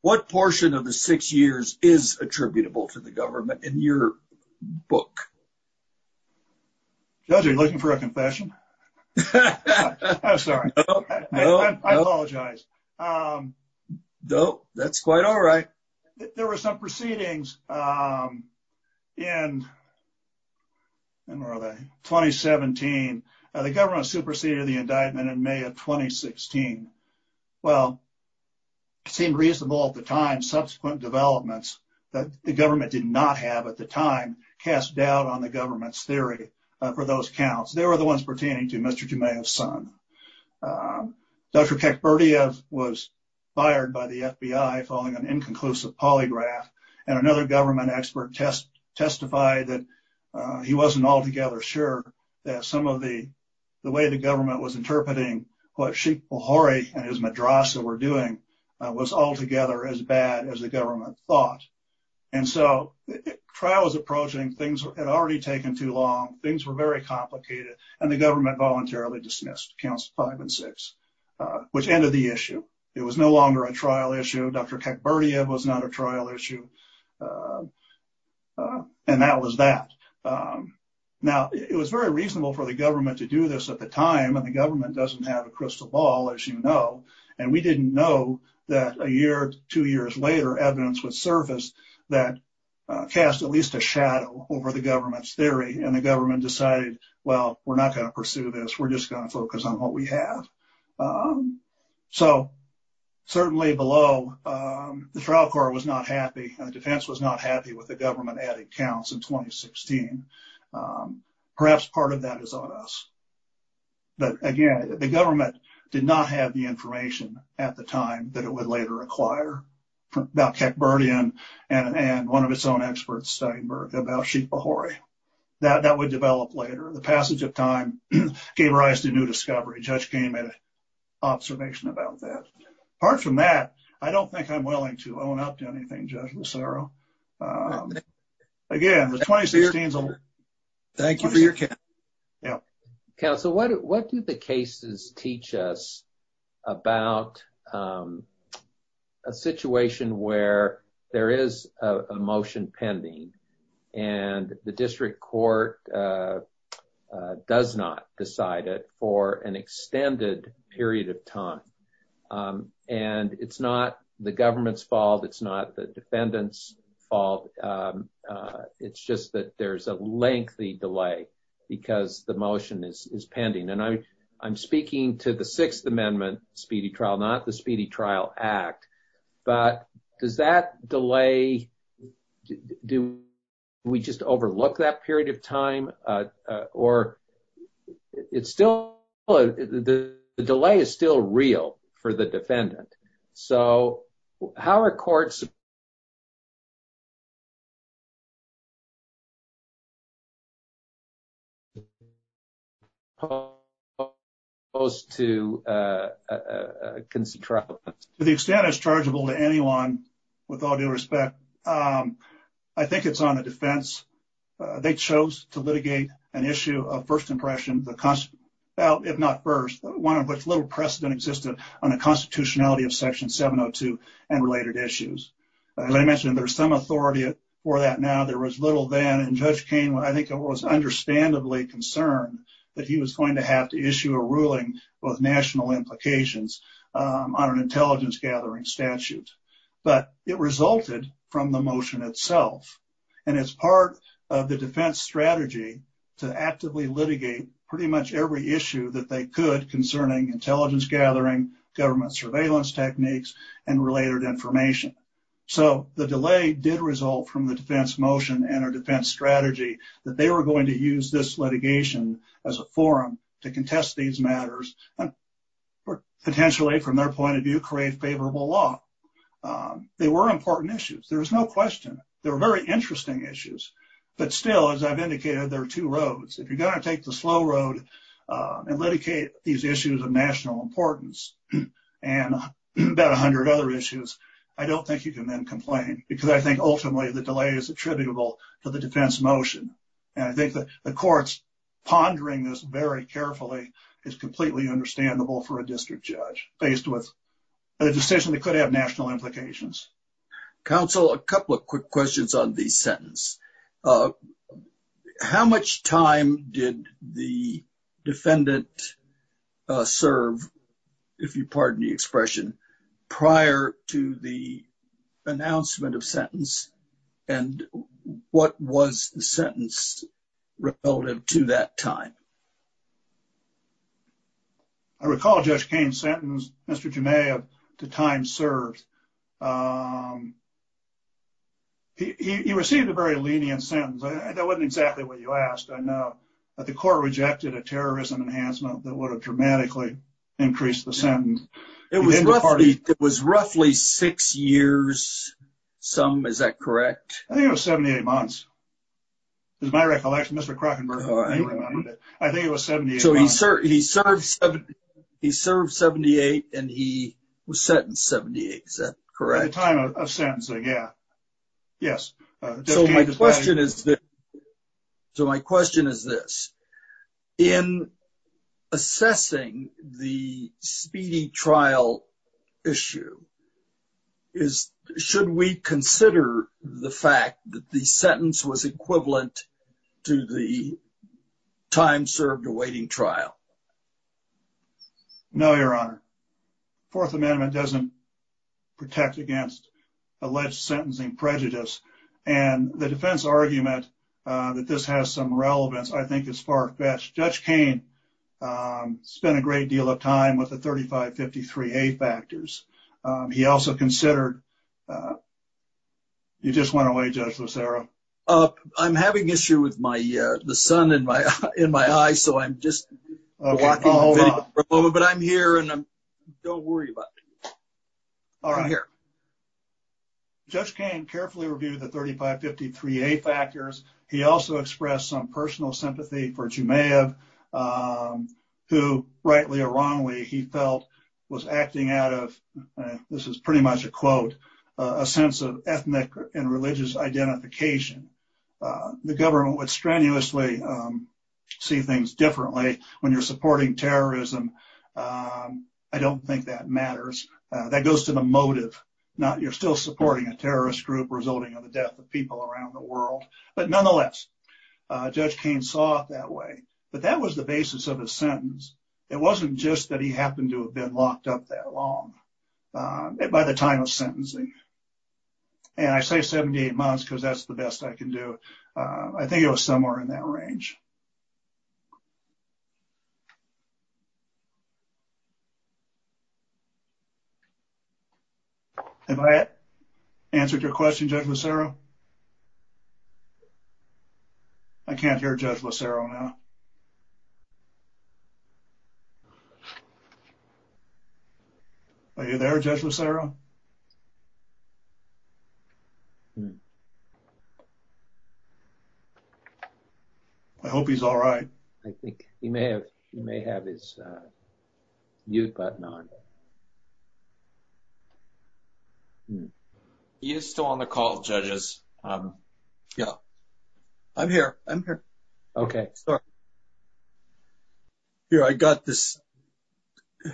What portion of the six years is attributable to the government in your book Judge are you looking for a confession? I'm sorry I apologize. Um No, that's quite. All right, there were some proceedings. Um in And where are they 2017 the government superseded the indictment in may of 2016 well It seemed reasonable at the time subsequent developments That the government did not have at the time cast doubt on the government's theory For those counts they were the ones pertaining to mr. Jamea's son Dr. Kekberdiev was fired by the fbi following an inconclusive polygraph and another government expert test testified that he wasn't altogether sure that some of the The way the government was interpreting what sheep behore and his madrasa were doing Was altogether as bad as the government thought and so Trials approaching things had already taken too long things were very complicated and the government voluntarily dismissed counts five and six Which ended the issue it was no longer a trial issue. Dr. Kekberdiev was not a trial issue And that was that um Now it was very reasonable for the government to do this at the time and the government doesn't have a crystal ball as you know and we didn't know that a year two years later evidence would surface that Cast at least a shadow over the government's theory and the government decided. Well, we're not going to pursue this We're just going to focus on what we have So certainly below The trial court was not happy and the defense was not happy with the government adding counts in 2016 Perhaps part of that is on us But again, the government did not have the information at the time that it would later acquire Dr. Kekberdiev and and one of its own experts Steinberg about sheep bahori That that would develop later the passage of time gave rise to new discovery judge came at a Observation about that apart from that. I don't think i'm willing to own up to anything judge. Lucero Again the 2016 Thank you for your care Yeah, counsel. What what do the cases teach us? about um A situation where there is a motion pending? and the district court, uh Does not decide it for an extended period of time Um, and it's not the government's fault. It's not the defendant's fault It's just that there's a lengthy delay Because the motion is is pending and i'm i'm speaking to the sixth amendment speedy trial not the speedy trial act But does that delay? Do we just overlook that period of time? Uh, uh, or It's still The delay is still real for the defendant. So how are courts? You Supposed to uh, uh Concentrate to the extent it's chargeable to anyone with all due respect. Um I think it's on the defense They chose to litigate an issue of first impression the constant Well, if not first one of which little precedent existed on the constitutionality of section 702 and related issues As I mentioned there's some authority for that now there was little then and judge kane I think it was understandably concerned that he was going to have to issue a ruling with national implications on an intelligence gathering statute But it resulted from the motion itself And as part of the defense strategy To actively litigate pretty much every issue that they could concerning intelligence gathering government surveillance techniques And related information So the delay did result from the defense motion and our defense strategy that they were going to use this litigation as a forum to contest these matters and Potentially from their point of view create favorable law They were important issues. There was no question. They were very interesting issues But still as i've indicated there are two roads if you're going to take the slow road and litigate these issues of national importance And About 100 other issues. I don't think you can then complain because I think ultimately the delay is attributable to the defense motion And I think that the court's pondering this very carefully is completely understandable for a district judge based with A decision that could have national implications Counsel a couple of quick questions on these sentence How much time did the defendant Uh serve if you pardon the expression prior to the announcement of sentence And what was the sentence? Relative to that time I recall judge kane's sentence. Mr. Jamea the time served He he received a very lenient sentence that wasn't exactly what you asked I know The court rejected a terrorism enhancement that would have dramatically Increased the sentence it was roughly it was roughly six years Some is that correct? I think it was 78 months Is my recollection? Mr. Krockenberg? I think it was 78. So he served he served He served 78 and he was sentenced 78. Is that correct time of sentencing? Yeah Yes, so my question is that So my question is this in assessing the speedy trial issue Is should we consider the fact that the sentence was equivalent? to the time served awaiting trial No, your honor fourth amendment doesn't protect against Alleged sentencing prejudice and the defense argument, uh that this has some relevance I think is far-fetched judge kane Um spent a great deal of time with the 35 53 a factors He also considered You just went away judge lucero, uh, i'm having issue with my uh, the sun in my in my eye, so i'm just But i'm here and i'm don't worry about All right here Judge kane carefully reviewed the 35 53 a factors. He also expressed some personal sympathy for jumeirah Who rightly or wrongly he felt was acting out of This is pretty much a quote a sense of ethnic and religious identification The government would strenuously See things differently when you're supporting terrorism Um, I don't think that matters that goes to the motive Not you're still supporting a terrorist group resulting in the death of people around the world, but nonetheless Judge kane saw it that way but that was the basis of his sentence It wasn't just that he happened to have been locked up that long by the time of sentencing And I say 78 months because that's the best I can do. Uh, I think it was somewhere in that range Um Have I answered your question judge lucero I can't hear judge lucero now Are you there judge lucero I Hope he's all right. I think he may have he may have his uh, mute button on He is still on the call judges, um, yeah i'm here i'm here, okay Here I got this Yeah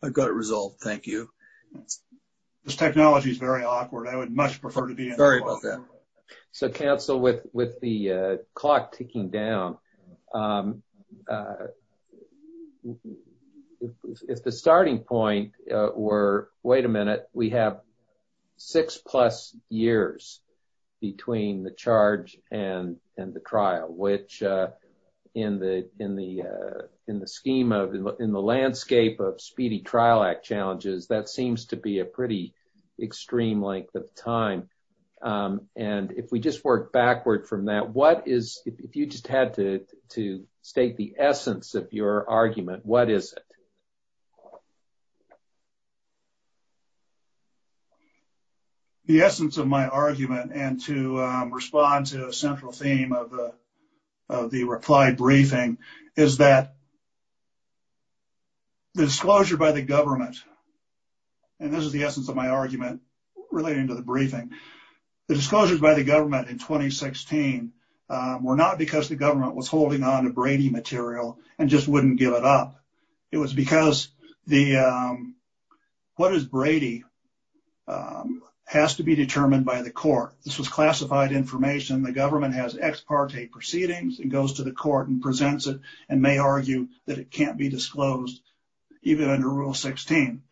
I've got it resolved. Thank you This technology is very awkward. I would much prefer to be very about that So counsel with with the uh clock ticking down um If the starting point, uh, we're wait a minute we have six plus years between the charge and and the trial which uh in the in the uh in the scheme of in the landscape of speedy trial act challenges that seems to be a pretty extreme length of time Um, and if we just work backward from that What is if you just had to to state the essence of your argument? What is it? The essence of my argument and to um respond to a central theme of the Reply briefing is that The disclosure by the government And this is the essence of my argument relating to the briefing the disclosures by the government in 2016 Were not because the government was holding on to brady material and just wouldn't give it up. It was because the um, What is brady? Um has to be determined by the court This was classified information The government has ex parte proceedings and goes to the court and presents it and may argue that it can't be disclosed even under rule 16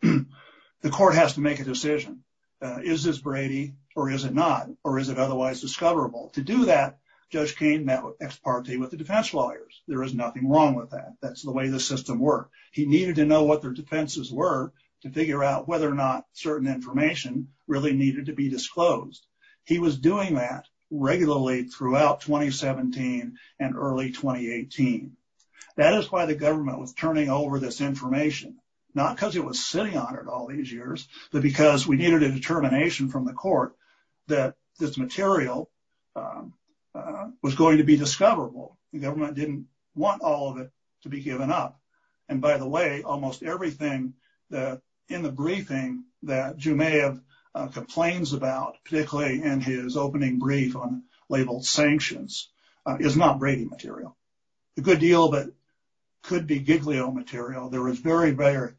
The court has to make a decision Is this brady or is it not or is it otherwise discoverable to do that? Judge kane met with ex parte with the defense lawyers. There is nothing wrong with that. That's the way the system worked He needed to know what their defenses were to figure out whether or not certain information really needed to be disclosed He was doing that regularly throughout 2017 and early 2018 That is why the government was turning over this information Not because it was sitting on it all these years but because we needed a determination from the court that this material Was going to be discoverable the government didn't want all of it to be given up And by the way, almost everything that in the briefing that jumeirah Complains about particularly in his opening brief on labeled sanctions Is not brady material a good deal, but Could be giglio material. There was very very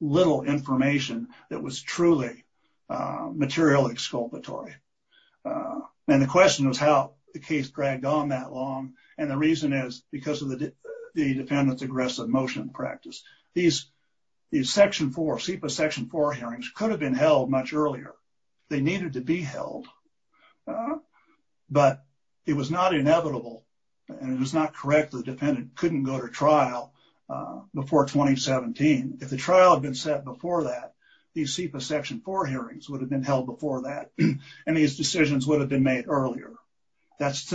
little information that was truly material exculpatory Uh, and the question was how the case dragged on that long and the reason is because of the the defendant's aggressive motion practice these These section 4 sepa section 4 hearings could have been held much earlier. They needed to be held But it was not inevitable And it was not correct. The defendant couldn't go to trial Before 2017 if the trial had been set before that these sepa section 4 hearings would have been held before that And these decisions would have been made earlier That's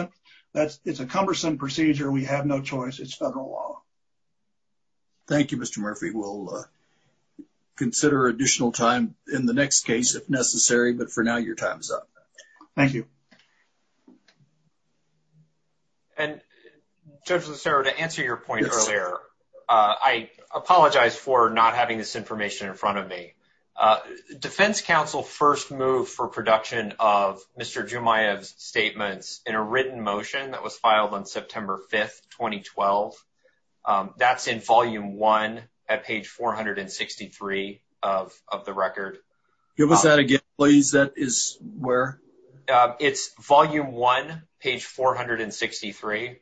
that's it's a cumbersome procedure. We have no choice. It's federal law Thank you, mr. Murphy. We'll uh Consider additional time in the next case if necessary, but for now your time is up. Thank you And Judge lacero to answer your point earlier Uh, I apologize for not having this information in front of me Uh defense council first move for production of mr Jumayev's statements in a written motion that was filed on september 5th, 2012 Um, that's in volume one at page 463 Of of the record give us that again, please. That is where It's volume one page 463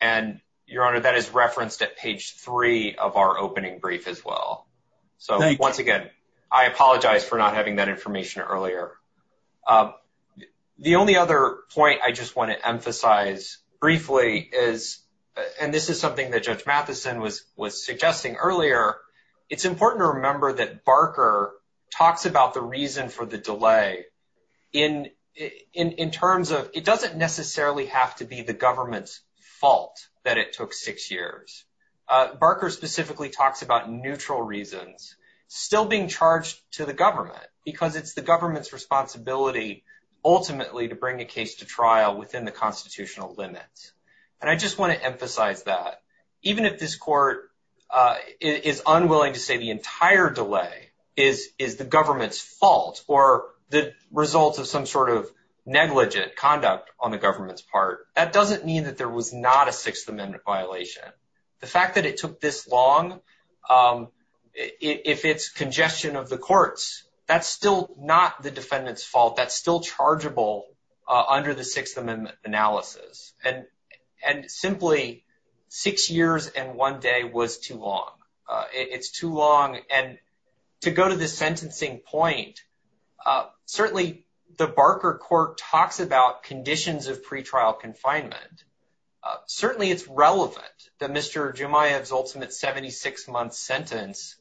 And your honor that is referenced at page three of our opening brief as well So once again, I apologize for not having that information earlier uh the only other point I just want to emphasize briefly is And this is something that judge matheson was was suggesting earlier It's important to remember that barker Talks about the reason for the delay in In in terms of it doesn't necessarily have to be the government's fault that it took six years Uh barker specifically talks about neutral reasons still being charged to the government because it's the government's responsibility Ultimately to bring a case to trial within the constitutional limits And I just want to emphasize that even if this court uh is unwilling to say the entire delay is is the government's fault or the results of some sort of Fact that it took this long um If it's congestion of the courts, that's still not the defendant's fault. That's still chargeable under the sixth amendment analysis and and simply Six years and one day was too long. Uh, it's too long and to go to the sentencing point Uh, certainly the barker court talks about conditions of pre-trial confinement Uh, certainly it's relevant that mr. Jumayah's ultimate 76 month sentence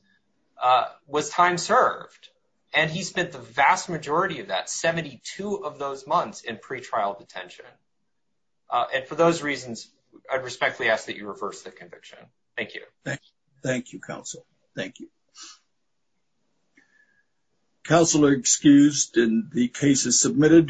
Uh was time served and he spent the vast majority of that 72 of those months in pre-trial detention Uh, and for those reasons i'd respectfully ask that you reverse the conviction. Thank you. Thank you. Thank you counsel. Thank you Counselor excused and the case is submitted